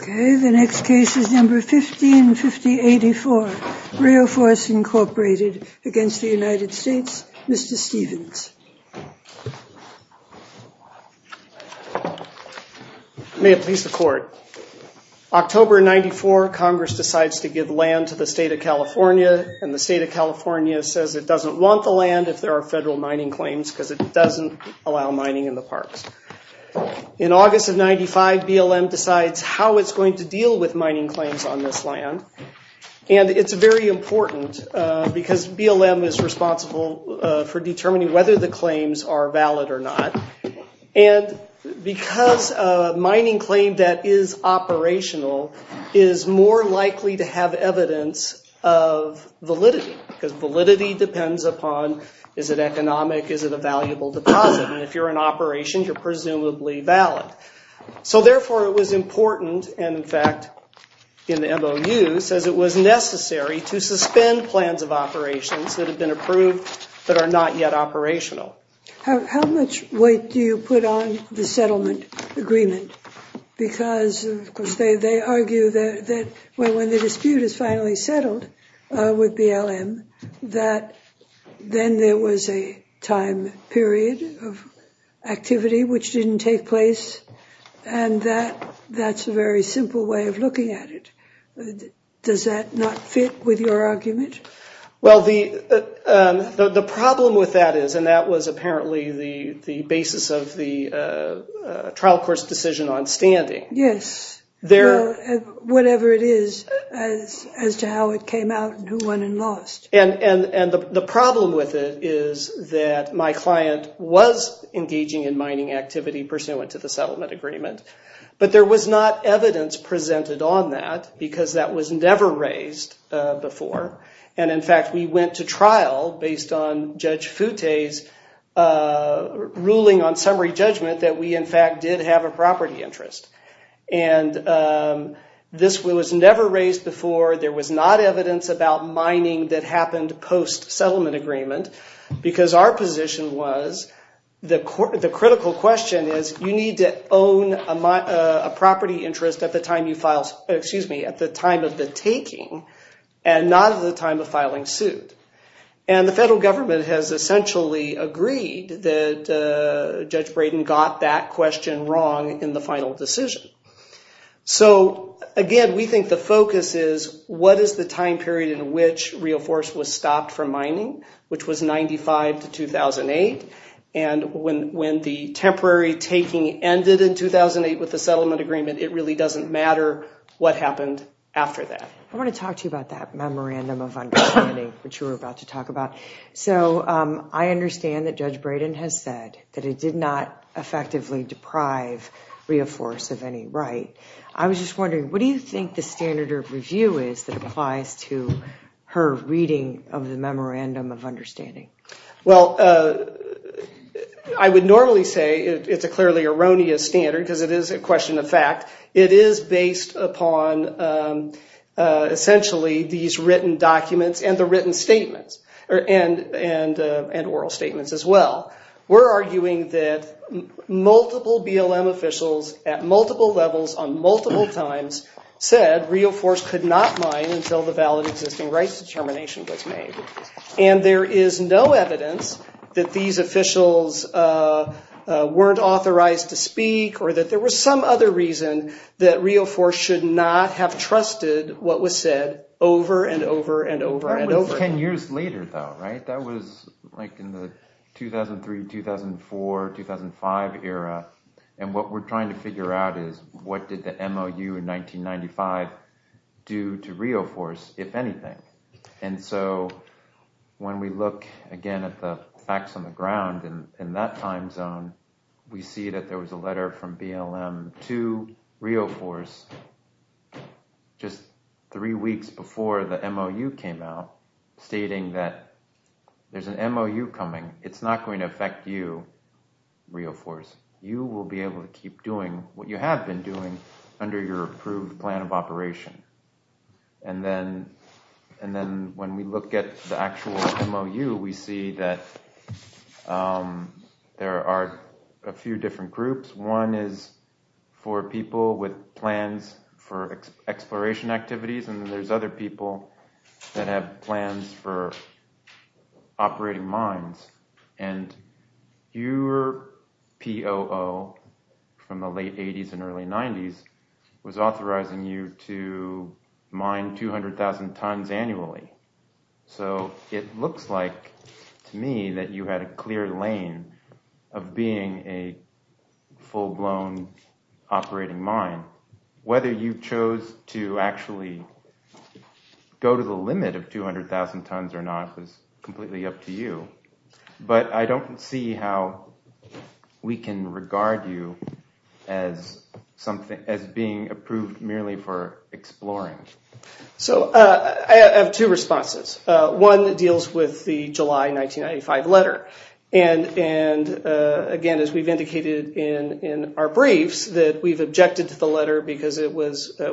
The next case is No. 155084, REOFORCE, Inc. v. United States, Mr. Stevens. May it please the Court. October 1994, Congress decides to give land to the State of California, and the State of California says it doesn't want the land if there are federal mining claims, In August of 1995, BLM decides how it's going to deal with mining claims on this land, and it's very important because BLM is responsible for determining whether the claims are valid or not, and because a mining claim that is operational is more likely to have evidence of validity, because validity depends upon is it economic, is it a valuable deposit, and if you're in operation, you're presumably valid. So therefore, it was important, and in fact, in the MOU, says it was necessary to suspend plans of operations that have been approved but are not yet operational. How much weight do you put on the settlement agreement? Because they argue that when the dispute is finally settled with BLM, that then there was a time period of activity which didn't take place, and that's a very simple way of looking at it. Does that not fit with your argument? Well, the problem with that is, and that was apparently the basis of the trial court's decision on standing. Yes. Whatever it is as to how it came out and who won and lost. And the problem with it is that my client was engaging in mining activity pursuant to the settlement agreement, but there was not evidence presented on that because that was never raised before, and in fact, we went to trial based on Judge Futte's ruling on summary judgment that we, in fact, did have a property interest. And this was never raised before. There was not evidence about mining that happened post-settlement agreement because our position was the critical question is you need to own a property interest at the time of the taking and not at the time of filing suit. And the federal government has essentially agreed that Judge Braden got that question wrong in the final decision. So, again, we think the focus is what is the time period in which Rio Forest was stopped from mining, which was 1995 to 2008, and when the temporary taking ended in 2008 with the settlement agreement, it really doesn't matter what happened after that. I want to talk to you about that memorandum of understanding, which you were about to talk about. So I understand that Judge Braden has said that it did not effectively deprive Rio Forest of any right. I was just wondering, what do you think the standard of review is that applies to her reading of the memorandum of understanding? Well, I would normally say it's a clearly erroneous standard because it is a question of fact. It is based upon essentially these written documents and the written statements and oral statements as well. We're arguing that multiple BLM officials at multiple levels on multiple times said Rio Forest could not mine until the valid existing rights determination was made. And there is no evidence that these officials weren't authorized to speak or that there was some other reason that Rio Forest should not have trusted what was said over and over and over and over. That was 10 years later, though, right? That was like in the 2003, 2004, 2005 era. And what we're trying to figure out is what did the MOU in 1995 do to Rio Forest, if anything? And so when we look again at the facts on the ground in that time zone, we see that there was a letter from BLM to Rio Forest just three weeks before the MOU came out stating that there's an MOU coming. It's not going to affect you, Rio Forest. You will be able to keep doing what you have been doing under your approved plan of operation. And then when we look at the actual MOU, we see that there are a few different groups. One is for people with plans for exploration activities, and there's other people that have plans for operating mines. And your POO from the late 80s and early 90s was authorizing you to mine 200,000 tons annually. So it looks like to me that you had a clear lane of being a full-blown operating mine. Whether you chose to actually go to the limit of 200,000 tons or not is completely up to you. But I don't see how we can regard you as being approved merely for exploring. So I have two responses. One deals with the July 1995 letter. And again, as we've indicated in our briefs, that we've objected to the letter because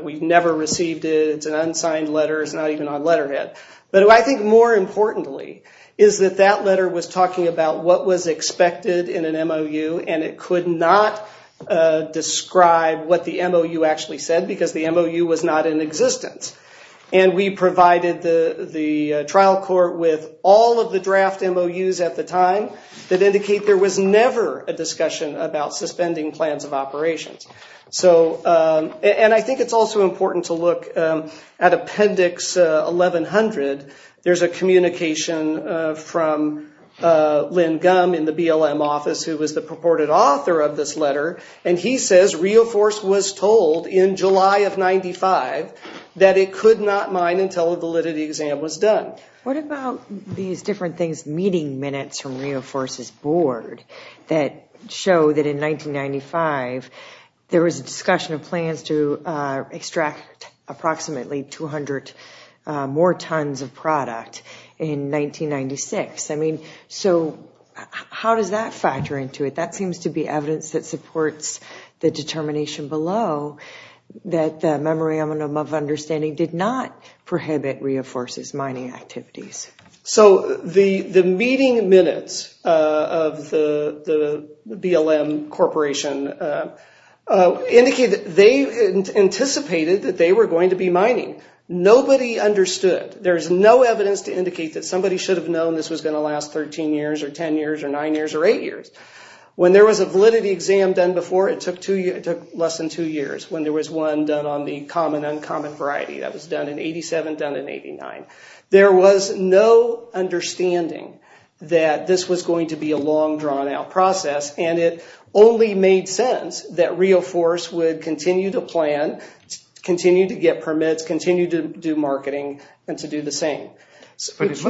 we never received it. It's an unsigned letter. It's not even on letterhead. But I think more importantly is that that letter was talking about what was expected in an MOU, and it could not describe what the MOU actually said because the MOU was not in existence. And we provided the trial court with all of the draft MOUs at the time that indicate there was never a discussion about suspending plans of operations. And I think it's also important to look at Appendix 1100. There's a communication from Lynn Gumm in the BLM office who was the purported author of this letter, and he says Rio Force was told in July of 1995 that it could not mine until a validity exam was done. What about these different things, meeting minutes from Rio Force's board that show that in 1995 there was a discussion of plans to extract approximately 200 more tons of product in 1996? I mean, so how does that factor into it? That seems to be evidence that supports the determination below that the memorandum of understanding did not prohibit Rio Force's mining activities. So the meeting minutes of the BLM Corporation indicate that they anticipated that they were going to be mining. Nobody understood. There's no evidence to indicate that somebody should have known this was going to last 13 years or 10 years or 9 years or 8 years. When there was a validity exam done before, it took less than 2 years. When there was one done on the common, uncommon variety, that was done in 87, done in 89. There was no understanding that this was going to be a long, drawn-out process, and it only made sense that Rio Force would continue to plan, continue to get permits, continue to do marketing, and to do the same. Would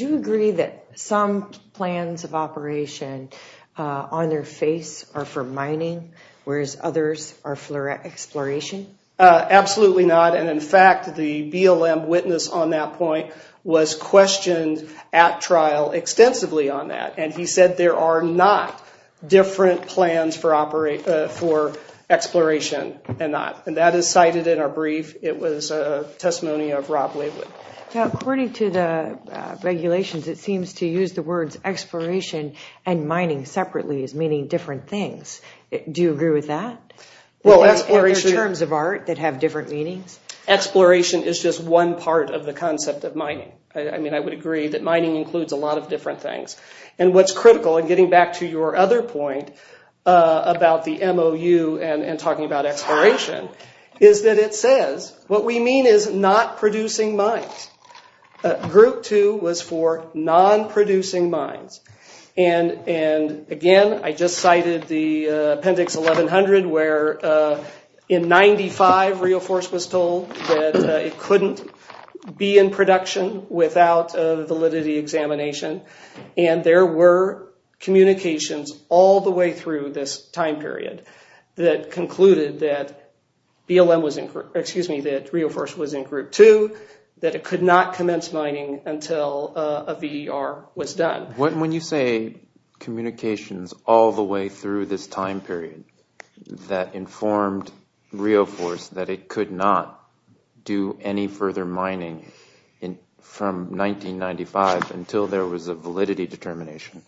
you agree that some plans of operation on their face are for mining, whereas others are for exploration? Absolutely not, and in fact the BLM witness on that point was questioned at trial extensively on that, and he said there are not different plans for exploration. That is cited in our brief. It was a testimony of Rob Waywood. According to the regulations, it seems to use the words exploration and mining separately as meaning different things. Do you agree with that? Are there terms of art that have different meanings? Exploration is just one part of the concept of mining. I mean, I would agree that mining includes a lot of different things. And what's critical, and getting back to your other point about the MOU and talking about exploration, is that it says what we mean is not producing mines. Group 2 was for non-producing mines. And again, I just cited the Appendix 1100 where in 1995, Rio Force was told that it couldn't be in production without a validity examination, and there were communications all the way through this time period that concluded that Rio Force was in Group 2, that it could not commence mining until a VER was done. When you say communications all the way through this time period, that informed Rio Force that it could not do any further mining from 1995 until there was a validity determination,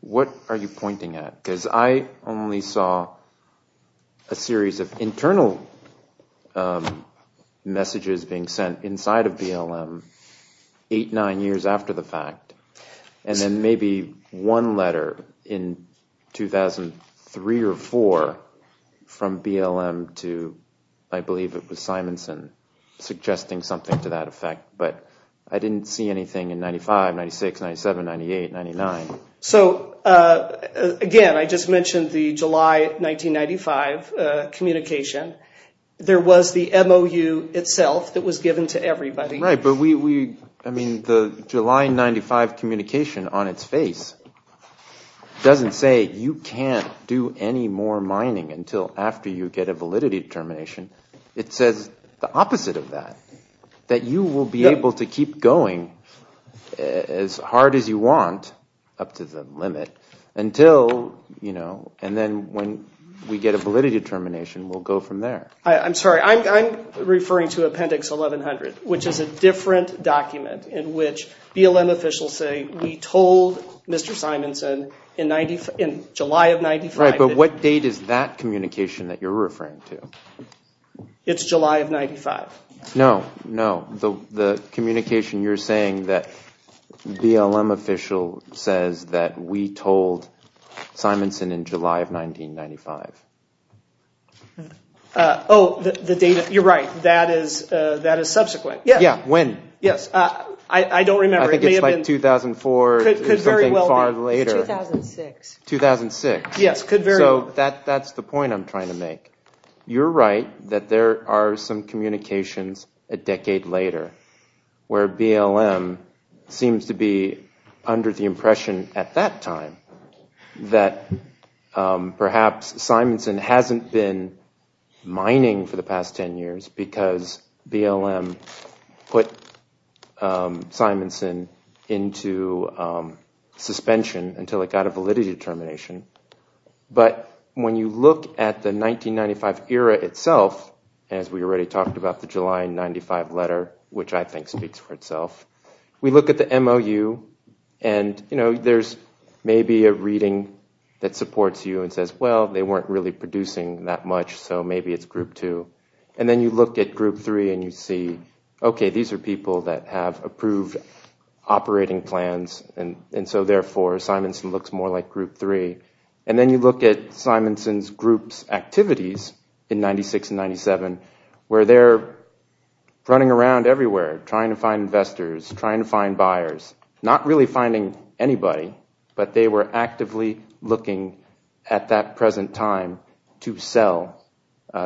what are you pointing at? Because I only saw a series of internal messages being sent inside of BLM, eight, nine years after the fact. And then maybe one letter in 2003 or 2004 from BLM to, I believe it was Simonson, suggesting something to that effect. But I didn't see anything in 1995, 1996, 1997, 1998, 1999. So again, I just mentioned the July 1995 communication. There was the MOU itself that was given to everybody. Right, but the July 1995 communication on its face doesn't say you can't do any more mining until after you get a validity determination. It says the opposite of that, that you will be able to keep going as hard as you want up to the limit until, and then when we get a validity determination, we'll go from there. I'm sorry, I'm referring to Appendix 1100, which is a different document in which BLM officials say we told Mr. Simonson in July of 1995. Right, but what date is that communication that you're referring to? It's July of 1995. No, no, the communication you're saying that BLM official says that we told Simonson in July of 1995. Oh, you're right, that is subsequent. Yeah, when? Yes, I don't remember. I think it's like 2004, something far later. 2006. 2006. Yes. So that's the point I'm trying to make. You're right that there are some communications a decade later where BLM seems to be under the impression at that time that perhaps Simonson hasn't been mining for the past ten years because BLM put Simonson into suspension until it got a validity determination, but when you look at the 1995 era itself, as we already talked about the July of 1995 letter, which I think speaks for itself, we look at the MOU and there's maybe a reading that supports you and says, well, they weren't really producing that much so maybe it's Group 2. And then you look at Group 3 and you see, okay, these are people that have approved operating plans and so therefore Simonson looks more like Group 3. And then you look at Simonson's group's activities in 1996 and 1997 where they're running around everywhere trying to find investors, trying to find buyers, not really finding anybody, but they were actively looking at that present time to sell.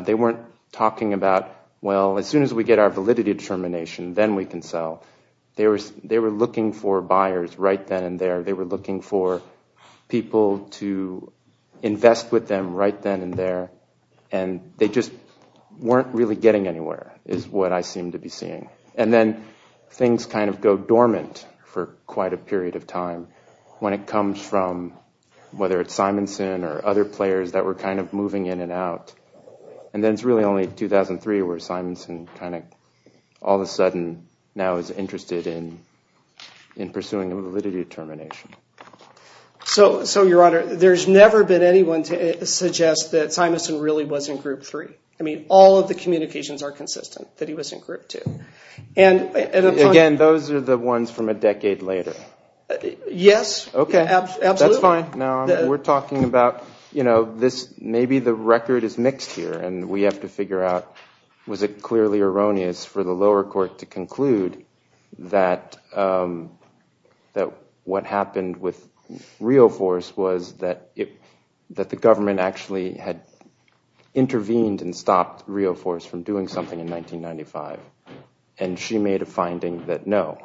They weren't talking about, well, as soon as we get our validity determination, then we can sell. They were looking for buyers right then and there. They were looking for people to invest with them right then and there. And they just weren't really getting anywhere is what I seem to be seeing. And then things kind of go dormant for quite a period of time when it comes from, whether it's Simonson or other players that were kind of moving in and out. And then it's really only 2003 where Simonson kind of all of a sudden now is interested in pursuing a validity determination. So, Your Honor, there's never been anyone to suggest that Simonson really was in Group 3. I mean, all of the communications are consistent that he was in Group 2. Again, those are the ones from a decade later. Yes. Okay. Absolutely. That's fine. We're talking about, you know, maybe the record is mixed here and we have to figure out, was it clearly erroneous for the lower court to conclude that what happened with Rio Force was that the government actually had intervened and stopped Rio Force from doing something in 1995. And she made a finding that, no,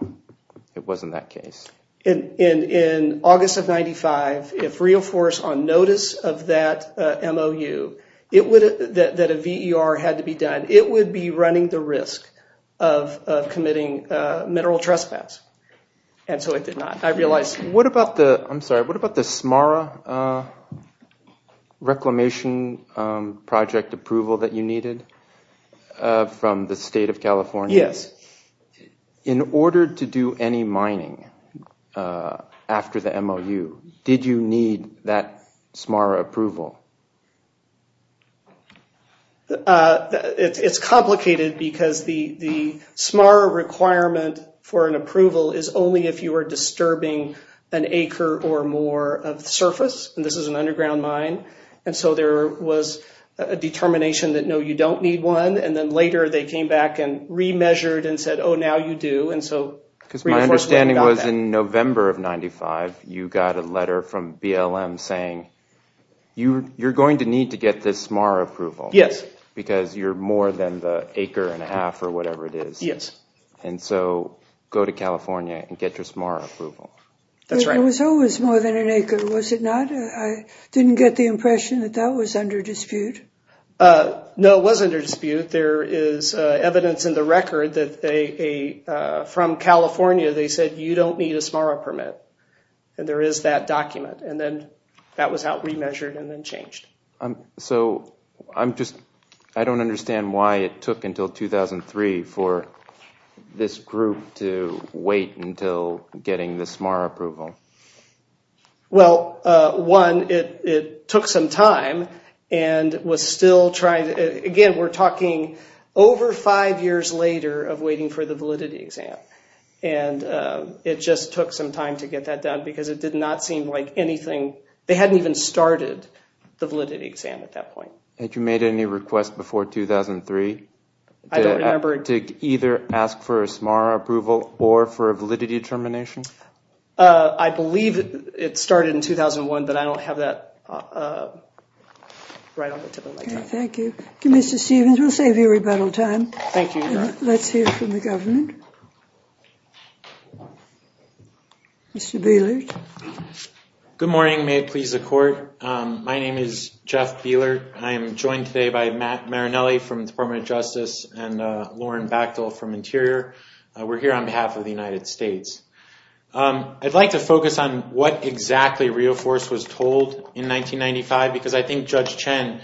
it wasn't that case. In August of 1995, if Rio Force, on notice of that MOU, that a VER had to be done, it would be running the risk of committing mineral trespass. And so it did not. I realize. What about the, I'm sorry, what about the Samara Reclamation Project approval that you needed from the State of California? Yes. In order to do any mining after the MOU, did you need that Samara approval? It's complicated because the Samara requirement for an approval is only if you are disturbing an acre or more of the surface. And this is an underground mine. And so there was a determination that, no, you don't need one. And then later they came back and remeasured and said, oh, now you do. And so Rio Force got that. Because my understanding was in November of 1995, you got a letter from BLM saying, you're going to need to get this Samara approval. Yes. Because you're more than the acre and a half or whatever it is. Yes. And so go to California and get your Samara approval. That's right. It was always more than an acre, was it not? I didn't get the impression that that was under dispute. No, it wasn't under dispute. There is evidence in the record that from California they said, you don't need a Samara permit. And there is that document. And then that was remeasured and then changed. So I don't understand why it took until 2003 for this group to wait until getting the Samara approval. Well, one, it took some time. Again, we're talking over five years later of waiting for the validity exam. And it just took some time to get that done because it did not seem like anything. They hadn't even started the validity exam at that point. Had you made any requests before 2003 to either ask for a Samara approval or for a validity determination? I believe it started in 2001, but I don't have that right on the tip of my tongue. Thank you. Mr. Stevens, we'll save you rebuttal time. Thank you, Your Honor. Let's hear from the government. Mr. Bielert. Good morning. May it please the Court. My name is Jeff Bielert. I am joined today by Matt Marinelli from the Department of Justice and Lauren Bachtel from Interior. We're here on behalf of the United States. I'd like to focus on what exactly Rio Force was told in 1995 because I think Judge Chen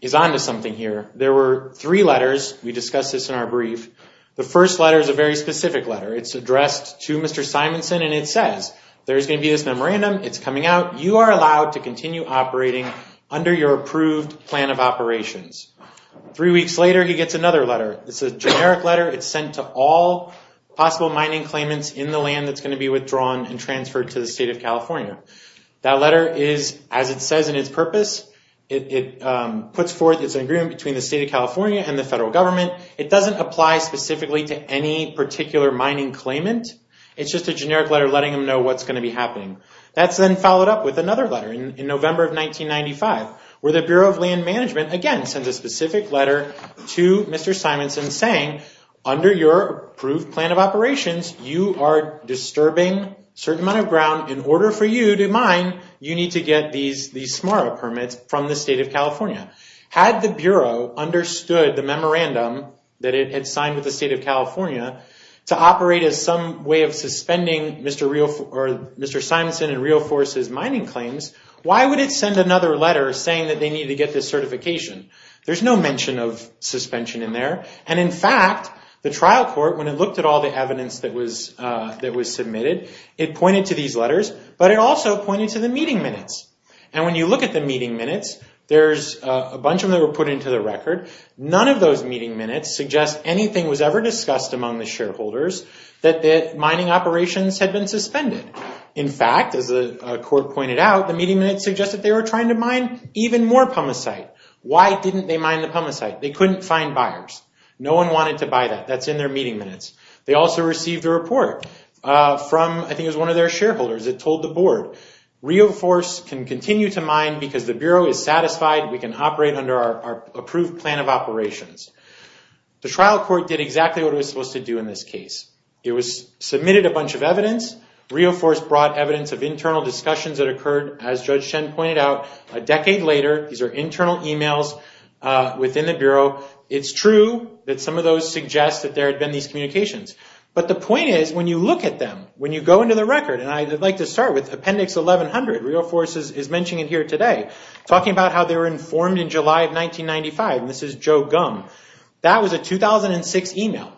is on to something here. There were three letters. We discussed this in our brief. The first letter is a very specific letter. It's addressed to Mr. Simonson, and it says there's going to be this memorandum. It's coming out. You are allowed to continue operating under your approved plan of operations. Three weeks later, he gets another letter. It's a generic letter. It's sent to all possible mining claimants in the land that's going to be withdrawn and transferred to the State of California. That letter is, as it says in its purpose, it puts forth its agreement between the State of California and the federal government. It doesn't apply specifically to any particular mining claimant. It's just a generic letter letting them know what's going to be happening. That's then followed up with another letter in November of 1995 where the Bureau of Land Management, again, sends a specific letter to Mr. Simonson saying, under your approved plan of operations, you are disturbing a certain amount of ground. In order for you to mine, you need to get these SMARA permits from the State of California. Had the Bureau understood the memorandum that it had signed with the State of California to operate as some way of suspending Mr. Simonson and Rio Force's mining claims, why would it send another letter saying that they need to get this certification? There's no mention of suspension in there. In fact, the trial court, when it looked at all the evidence that was submitted, it pointed to these letters, but it also pointed to the meeting minutes. When you look at the meeting minutes, there's a bunch of them that were put into the record. None of those meeting minutes suggest anything was ever discussed among the shareholders that mining operations had been suspended. In fact, as the court pointed out, the meeting minutes suggested they were trying to mine even more pumice site. Why didn't they mine the pumice site? They couldn't find buyers. No one wanted to buy that. That's in their meeting minutes. They also received a report from, I think it was one of their shareholders. It told the board, Rio Force can continue to mine because the Bureau is satisfied we can operate under our approved plan of operations. The trial court did exactly what it was supposed to do in this case. It submitted a bunch of evidence. Rio Force brought evidence of internal discussions that occurred, as Judge Chen pointed out, a decade later. These are internal emails within the Bureau. It's true that some of those suggest that there had been these communications. But the point is, when you look at them, when you go into the record, and I'd like to start with Appendix 1100, Rio Force is mentioning it here today, talking about how they were informed in July of 1995. This is Joe Gum. That was a 2006 email.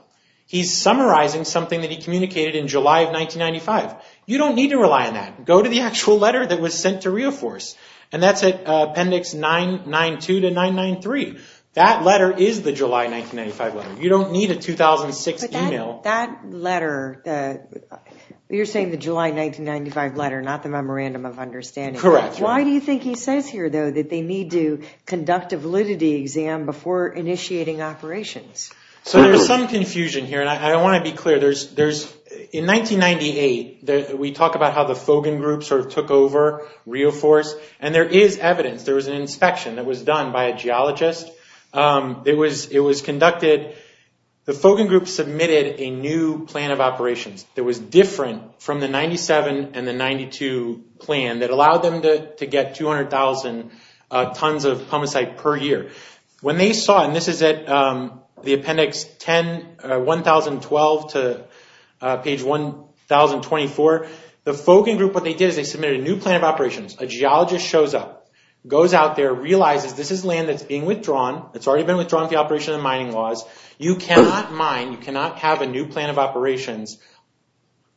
He's summarizing something that he communicated in July of 1995. You don't need to rely on that. Go to the actual letter that was sent to Rio Force. That's at Appendix 992-993. That letter is the July 1995 letter. You don't need a 2006 email. But that letter, you're saying the July 1995 letter, not the memorandum of understanding. Correct. Why do you think he says here, though, that they need to conduct a validity exam before initiating operations? There's some confusion here, and I want to be clear. In 1998, we talk about how the Fogan Group took over Rio Force, and there is evidence. There was an inspection that was done by a geologist. It was conducted. The Fogan Group submitted a new plan of operations that was different from the 97 and the 92 plan that allowed them to get 200,000 tons of pumicite per year. When they saw, and this is at the Appendix 1012 to page 1024, the Fogan Group, what they did is they submitted a new plan of operations. A geologist shows up, goes out there, realizes this is land that's being withdrawn. It's already been withdrawn from the operation and mining laws. You cannot mine. You cannot have a new plan of operations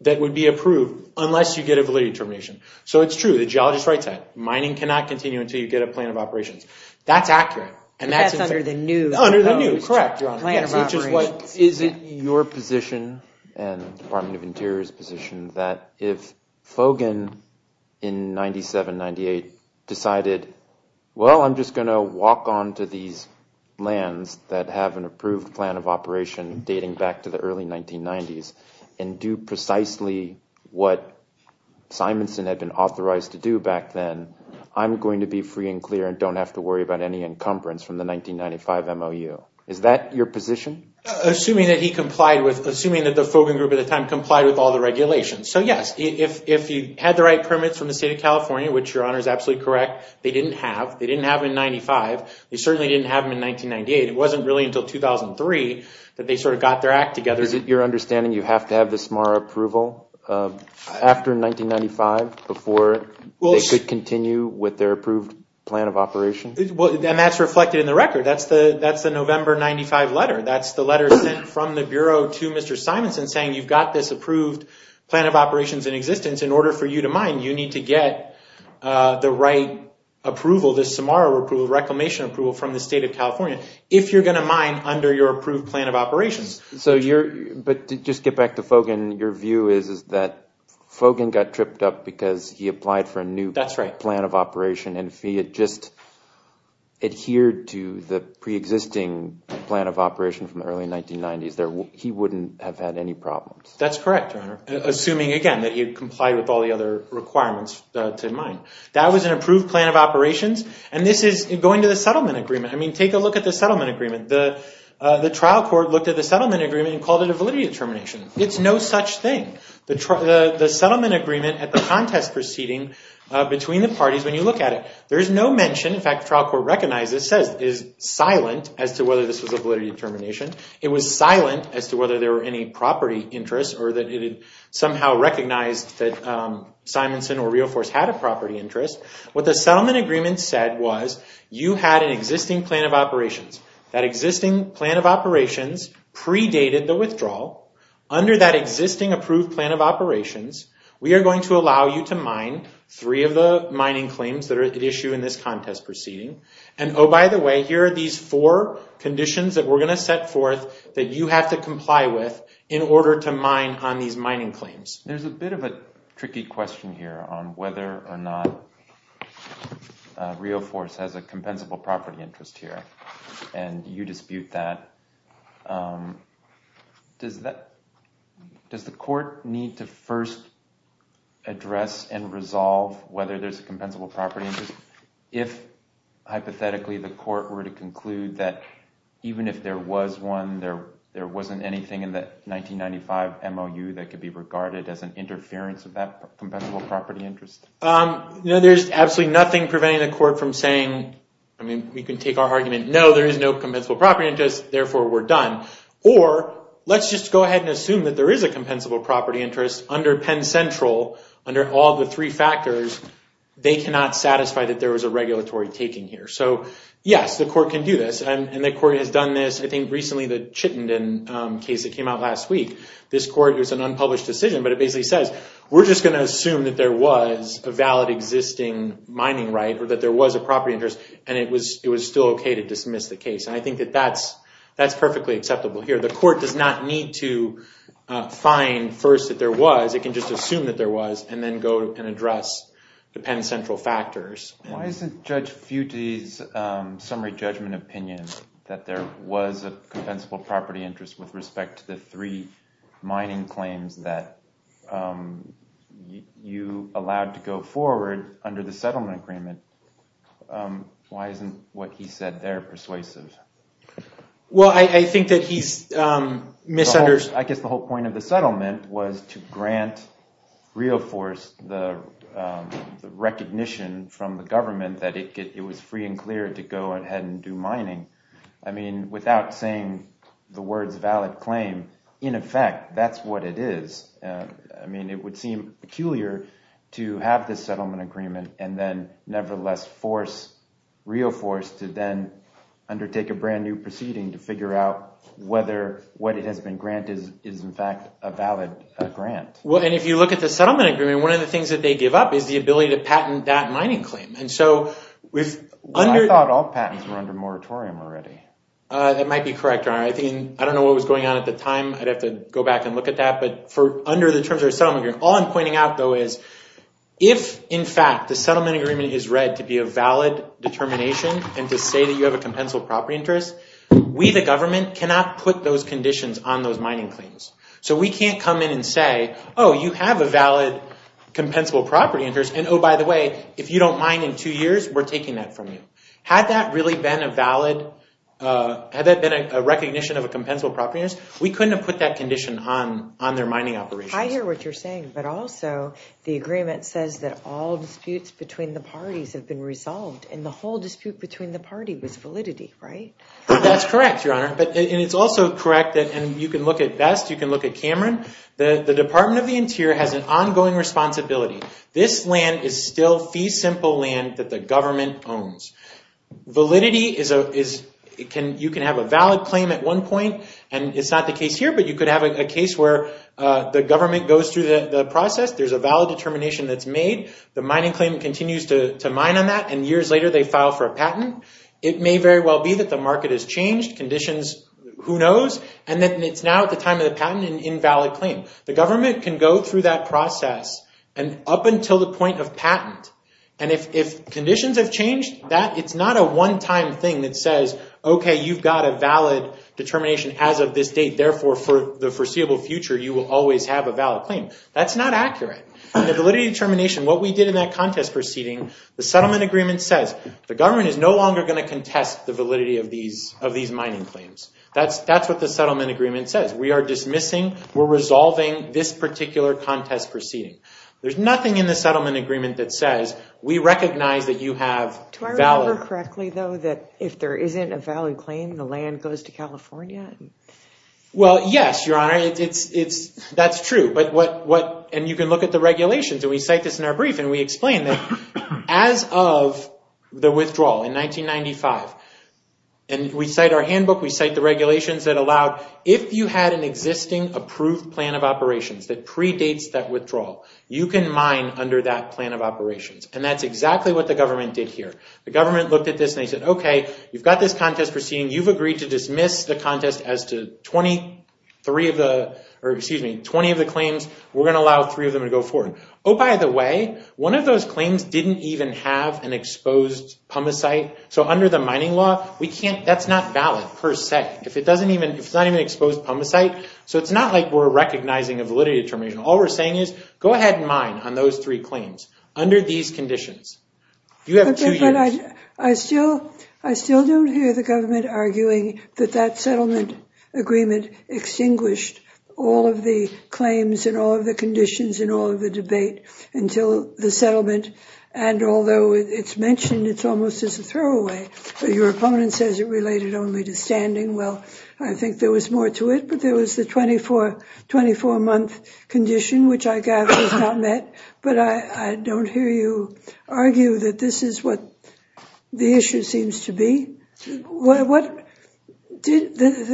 that would be approved unless you get a validity determination. So it's true. The geologist writes that. Mining cannot continue until you get a plan of operations. That's accurate. That's under the new plan of operations. Is it your position and the Department of Interior's position that if Fogan in 97, 98 decided, well, I'm just going to walk onto these lands that have an approved plan of operation dating back to the early 1990s and do precisely what Simonson had been authorized to do back then, I'm going to be free and clear and don't have to worry about any encumbrance from the 1995 MOU? Is that your position? Assuming that he complied with – assuming that the Fogan Group at the time complied with all the regulations. So, yes, if you had the right permits from the state of California, which Your Honor is absolutely correct, they didn't have. They didn't have them in 95. They certainly didn't have them in 1998. It wasn't really until 2003 that they sort of got their act together. Is it your understanding you have to have the Samara approval after 1995 before they could continue with their approved plan of operation? And that's reflected in the record. That's the November 95 letter. That's the letter sent from the Bureau to Mr. Simonson saying you've got this approved plan of operations in existence. In order for you to mine, you need to get the right approval, the Samara approval, the reclamation approval from the state of California, if you're going to mine under your approved plan of operations. But to just get back to Fogan, your view is that Fogan got tripped up because he applied for a new plan of operation. And if he had just adhered to the preexisting plan of operation from the early 1990s, he wouldn't have had any problems. That's correct, Your Honor, assuming, again, that he had complied with all the other requirements to mine. That was an approved plan of operations. And this is going to the settlement agreement. I mean, take a look at the settlement agreement. The trial court looked at the settlement agreement and called it a validity determination. It's no such thing. The settlement agreement at the contest proceeding between the parties, when you look at it, there is no mention. In fact, the trial court recognized it, says it is silent as to whether this was a validity determination. It was silent as to whether there were any property interests or that it had somehow recognized that Simonson or Rio Force had a property interest. What the settlement agreement said was you had an existing plan of operations. That existing plan of operations predated the withdrawal. Under that existing approved plan of operations, we are going to allow you to mine three of the mining claims that are at issue in this contest proceeding. And, oh, by the way, here are these four conditions that we're going to set forth that you have to comply with in order to mine on these mining claims. There's a bit of a tricky question here on whether or not Rio Force has a compensable property interest here. And you dispute that. Does the court need to first address and resolve whether there's a compensable property interest if, hypothetically, the court were to conclude that even if there was one, there wasn't anything in the 1995 MOU that could be regarded as an interference of that compensable property interest? There's absolutely nothing preventing the court from saying, we can take our argument, no, there is no compensable property interest. Therefore, we're done. Or let's just go ahead and assume that there is a compensable property interest under Penn Central under all the three factors. They cannot satisfy that there was a regulatory taking here. So, yes, the court can do this. And the court has done this, I think, recently, the Chittenden case that came out last week. This court, it was an unpublished decision, but it basically says, we're just going to assume that there was a valid existing mining right or that there was a property interest. And it was still OK to dismiss the case. And I think that that's perfectly acceptable here. The court does not need to find first that there was. It can just assume that there was and then go and address the Penn Central factors. Why isn't Judge Futte's summary judgment opinion that there was a compensable property interest with respect to the three mining claims that you allowed to go forward under the settlement agreement? Why isn't what he said there persuasive? Well, I think that he's misunderstood. I guess the whole point of the settlement was to grant RioForce the recognition from the government that it was free and clear to go ahead and do mining. I mean, without saying the words valid claim, in effect, that's what it is. I mean, it would seem peculiar to have this settlement agreement and then nevertheless force RioForce to then undertake a brand new proceeding to figure out whether what it has been granted is, in fact, a valid grant. Well, and if you look at the settlement agreement, one of the things that they give up is the ability to patent that mining claim. And so I thought all patents were under moratorium already. That might be correct. I don't know what was going on at the time. I'd have to go back and look at that. But under the terms of the settlement agreement, all I'm pointing out, though, is if, in fact, the settlement agreement is read to be a valid determination and to say that you have a compensable property interest, we, the government, cannot put those conditions on those mining claims. So we can't come in and say, oh, you have a valid compensable property interest and, oh, by the way, if you don't mine in two years, we're taking that from you. Had that really been a valid – had that been a recognition of a compensable property interest, we couldn't have put that condition on their mining operations. I hear what you're saying. But also the agreement says that all disputes between the parties have been resolved, and the whole dispute between the party was validity, right? That's correct, Your Honor. And it's also correct that – and you can look at Best, you can look at Cameron – the Department of the Interior has an ongoing responsibility. This land is still fee simple land that the government owns. Validity is – you can have a valid claim at one point, and it's not the case here, but you could have a case where the government goes through the process. There's a valid determination that's made. The mining claim continues to mine on that, and years later they file for a patent. It may very well be that the market has changed conditions. Who knows? And then it's now at the time of the patent, an invalid claim. The government can go through that process up until the point of patent, and if conditions have changed, it's not a one-time thing that says, okay, you've got a valid determination as of this date, therefore for the foreseeable future you will always have a valid claim. That's not accurate. In the validity determination, what we did in that contest proceeding, the settlement agreement says the government is no longer going to contest the validity of these mining claims. That's what the settlement agreement says. We are dismissing. We're resolving this particular contest proceeding. There's nothing in the settlement agreement that says we recognize that you have value. Do I remember correctly, though, that if there isn't a valid claim, the land goes to California? Well, yes, Your Honor. That's true, and you can look at the regulations, and we cite this in our brief, and we explain that as of the withdrawal in 1995, and we cite our handbook. We cite the regulations that allowed if you had an existing approved plan of operations that predates that withdrawal, you can mine under that plan of operations, and that's exactly what the government did here. The government looked at this, and they said, okay, you've got this contest proceeding. You've agreed to dismiss the contest as to 20 of the claims. We're going to allow three of them to go forward. Oh, by the way, one of those claims didn't even have an exposed pumice site, so under the mining law, that's not valid per se. If it's not even exposed pumice site, so it's not like we're recognizing a validity determination. All we're saying is go ahead and mine on those three claims under these conditions. You have two years. I still don't hear the government arguing that that settlement agreement extinguished all of the claims and all of the conditions and all of the debate until the settlement, and although it's mentioned, it's almost as a throwaway. Your opponent says it related only to standing. Well, I think there was more to it, but there was the 24-month condition, which I gather was not met, but I don't hear you argue that this is what the issue seems to be. The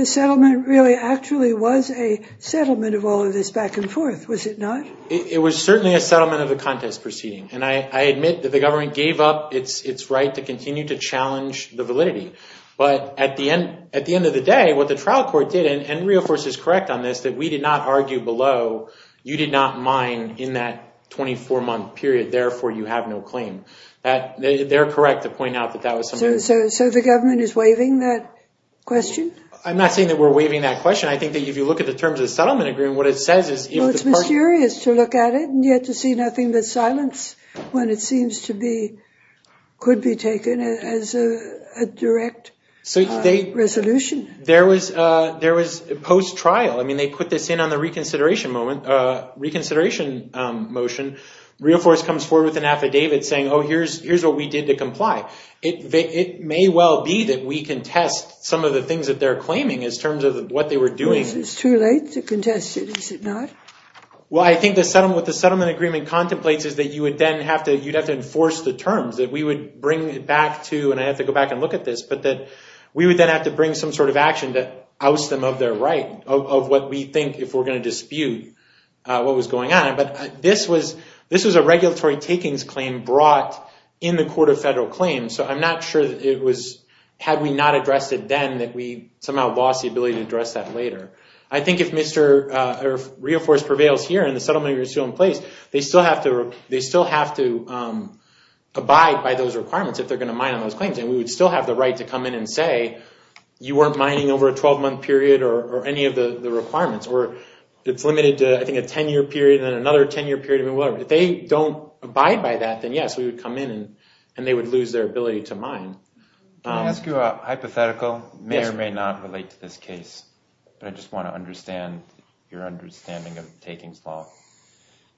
settlement really actually was a settlement of all of this back and forth, was it not? It was certainly a settlement of the contest proceeding, and I admit that the government gave up its right to continue to challenge the validity, but at the end of the day, what the trial court did, and Rio Force is correct on this, that we did not argue below. You did not mine in that 24-month period. Therefore, you have no claim. They're correct to point out that that was submitted. So the government is waiving that question? I'm not saying that we're waiving that question. I think that if you look at the terms of the settlement agreement, what it says is- Well, it's mysterious to look at it, and yet to see nothing but silence when it seems to be could be taken as a direct resolution. There was post-trial. I mean, they put this in on the reconsideration motion. Rio Force comes forward with an affidavit saying, oh, here's what we did to comply. It may well be that we contest some of the things that they're claiming in terms of what they were doing. It's too late to contest it, is it not? Well, I think what the settlement agreement contemplates is that you would then have to enforce the terms, that we would bring it back to- and I have to go back and look at this- but that we would then have to bring some sort of action to oust them of their right, of what we think, if we're going to dispute what was going on. But this was a regulatory takings claim brought in the Court of Federal Claims, so I'm not sure that it was- had we not addressed it then, that we somehow lost the ability to address that later. I think if Rio Force prevails here and the settlement agreement is still in place, they still have to abide by those requirements, if they're going to mine on those claims. And we would still have the right to come in and say, you weren't mining over a 12-month period or any of the requirements. Or it's limited to, I think, a 10-year period, then another 10-year period, whatever. If they don't abide by that, then yes, we would come in and they would lose their ability to mine. Can I ask you a hypothetical? Yes. It may or may not relate to this case, but I just want to understand your understanding of takings law.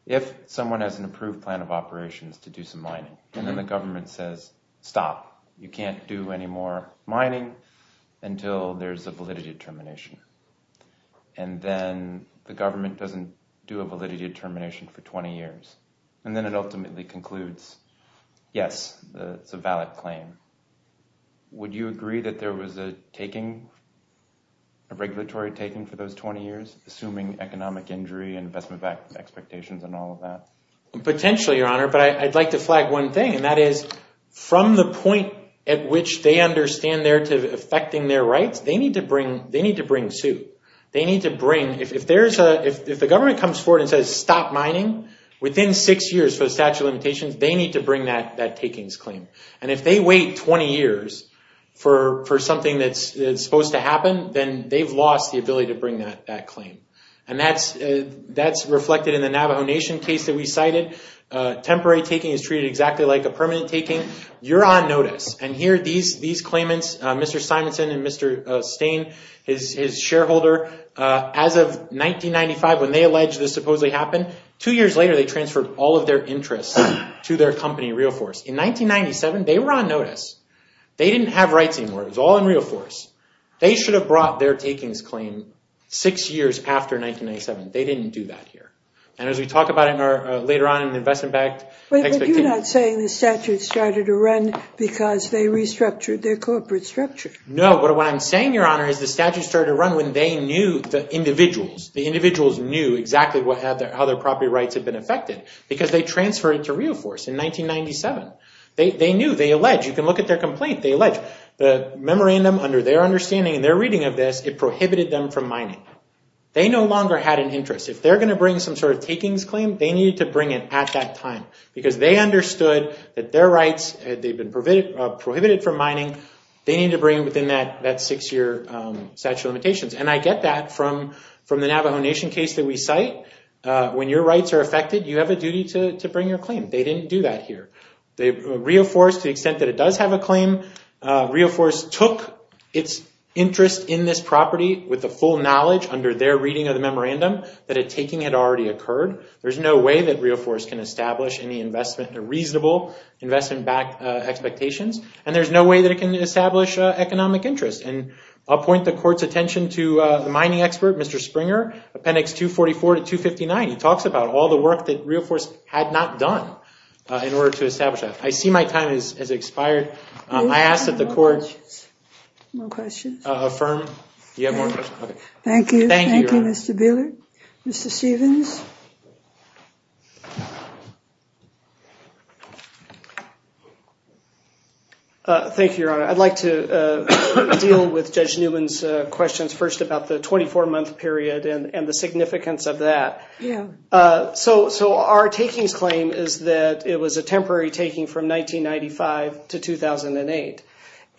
If someone has an approved plan of operations to do some mining, and then the government says, stop. You can't do any more mining until there's a validity determination. And then the government doesn't do a validity determination for 20 years. And then it ultimately concludes, yes, it's a valid claim. Would you agree that there was a taking, a regulatory taking for those 20 years, assuming economic injury and investment expectations and all of that? Potentially, Your Honor. But I'd like to flag one thing, and that is, from the point at which they understand they're affecting their rights, they need to bring suit. If the government comes forward and says, stop mining, within six years for the statute of limitations, they need to bring that takings claim. And if they wait 20 years for something that's supposed to happen, then they've lost the ability to bring that claim. And that's reflected in the Navajo Nation case that we cited. Temporary taking is treated exactly like a permanent taking. You're on notice. And here, these claimants, Mr. Simonson and Mr. Stain, his shareholder, as of 1995, when they alleged this supposedly happened, two years later they transferred all of their interests to their company, RealForce. In 1997, they were on notice. They didn't have rights anymore. It was all in RealForce. They should have brought their takings claim six years after 1997. They didn't do that here. And as we talk about it later on in the investment-backed expectation. You're not saying the statute started to run because they restructured their corporate structure. No. What I'm saying, Your Honor, is the statute started to run when they knew the individuals. The individuals knew exactly how their property rights had been affected because they transferred it to RealForce in 1997. They knew. They alleged. You can look at their complaint. They alleged. The memorandum, under their understanding and their reading of this, it prohibited them from mining. They no longer had an interest. If they're going to bring some sort of takings claim, they need to bring it at that time. Because they understood that their rights, they've been prohibited from mining. They need to bring it within that six-year statute of limitations. And I get that from the Navajo Nation case that we cite. When your rights are affected, you have a duty to bring your claim. They didn't do that here. RealForce, to the extent that it does have a claim, RealForce took its interest in this property with the full knowledge, under their reading of the memorandum, that a taking had already occurred. There's no way that RealForce can establish any reasonable investment-backed expectations. And there's no way that it can establish economic interest. And I'll point the Court's attention to the mining expert, Mr. Springer, Appendix 244 to 259. He talks about all the work that RealForce had not done in order to establish that. I see my time has expired. I ask that the Court affirm. You have more questions? Thank you. Thank you, Your Honor. Thank you, Mr. Buehler. Mr. Stevens? Thank you, Your Honor. I'd like to deal with Judge Newman's questions first about the 24-month period and the significance of that. Yeah. So our takings claim is that it was a temporary taking from 1995 to 2008.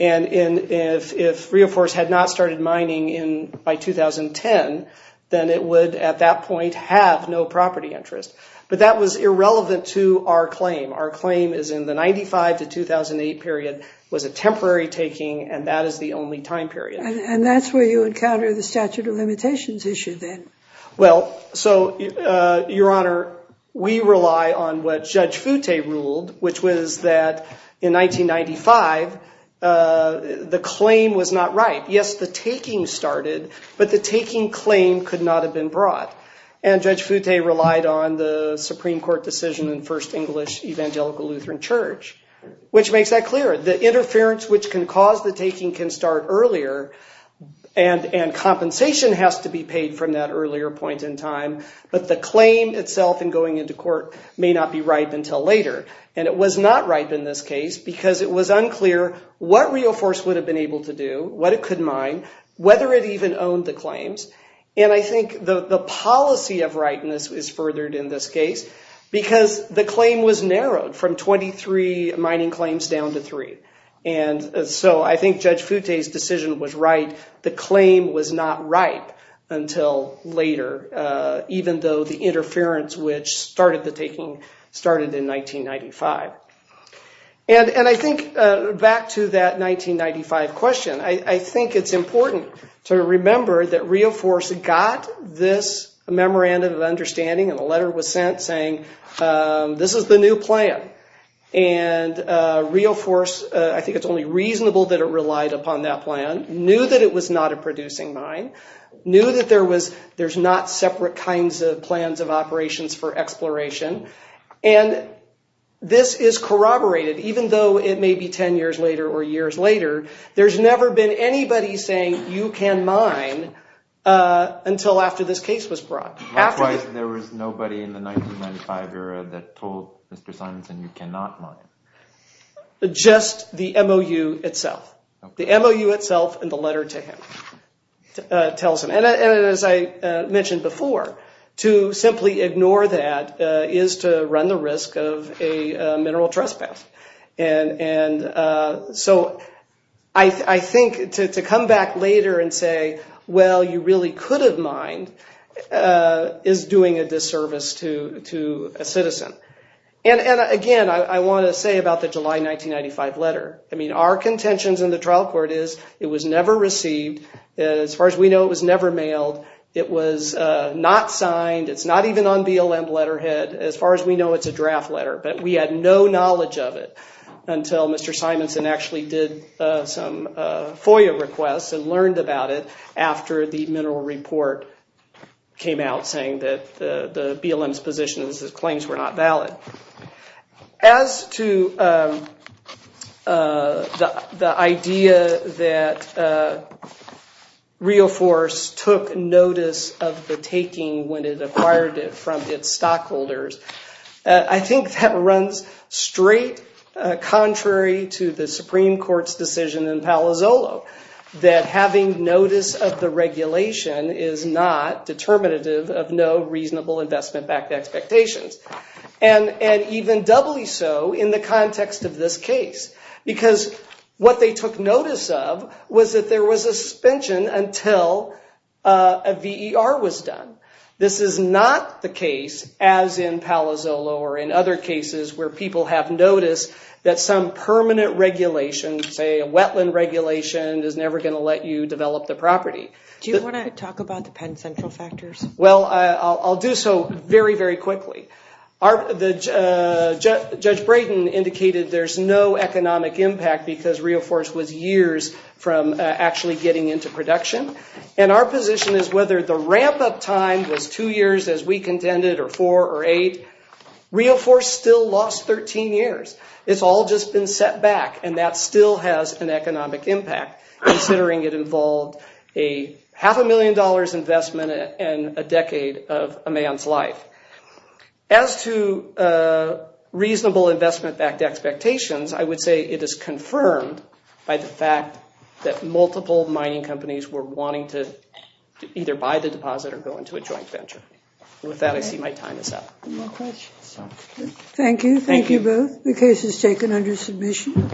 And if RealForce had not started mining by 2010, then it would at that point have no property interest. But that was irrelevant to our claim. Our claim is in the 1995 to 2008 period was a temporary taking, and that is the only time period. And that's where you encounter the statute of limitations issue then. Well, so, Your Honor, we rely on what Judge Foute ruled, which was that in 1995 the claim was not right. Yes, the taking started, but the taking claim could not have been brought. And Judge Foute relied on the Supreme Court decision in First English Evangelical Lutheran Church, which makes that clear. The interference which can cause the taking can start earlier, and compensation has to be paid from that earlier point in time. But the claim itself in going into court may not be ripe until later. And it was not ripe in this case because it was unclear what RealForce would have been able to do, what it could mine, whether it even owned the claims. And I think the policy of rightness is furthered in this case because the claim was narrowed from 23 mining claims down to three. And so I think Judge Foute's decision was right. The claim was not ripe until later, even though the interference which started the taking started in 1995. And I think back to that 1995 question, I think it's important to remember that RealForce got this memorandum of understanding and a letter was sent saying this is the new plan. And RealForce, I think it's only reasonable that it relied upon that plan, knew that it was not a producing mine, knew that there's not separate kinds of plans of operations for exploration. And this is corroborated, even though it may be 10 years later or years later, there's never been anybody saying you can mine until after this case was brought. There was nobody in the 1995 era that told Mr. Simonsen you cannot mine. Just the MOU itself. The MOU itself and the letter to him tells him. And as I mentioned before, to simply ignore that is to run the risk of a mineral trespass. And so I think to come back later and say, well, you really could have mined, is doing a disservice to a citizen. And again, I want to say about the July 1995 letter, I mean, our contentions in the trial court is it was never received. As far as we know, it was never mailed. It was not signed. It's not even on BLM letterhead. As far as we know, it's a draft letter. But we had no knowledge of it until Mr. Simonsen actually did some FOIA requests and learned about it after the mineral report came out saying that the BLM's position is that claims were not valid. As to the idea that RioForce took notice of the taking when it acquired it from its stockholders, I think that runs straight contrary to the Supreme Court's decision in Palazzolo that having notice of the regulation is not determinative of no reasonable investment-backed expectations. And even doubly so in the context of this case. Because what they took notice of was that there was a suspension until a VER was done. This is not the case, as in Palazzolo or in other cases where people have noticed that some permanent regulation, say a wetland regulation, is never going to let you develop the property. Do you want to talk about the Penn Central factors? Well, I'll do so very, very quickly. Judge Brayden indicated there's no economic impact because RioForce was years from actually getting into production. And our position is whether the ramp-up time was two years as we contended or four or eight, RioForce still lost 13 years. It's all just been set back and that still has an economic impact considering it involved a half a million dollars investment and a decade of a man's life. As to reasonable investment-backed expectations, I would say it is confirmed by the fact that multiple mining companies were wanting to either buy the deposit or go into a joint venture. With that, I see my time is up. Thank you. Thank you both. The case is taken under submission.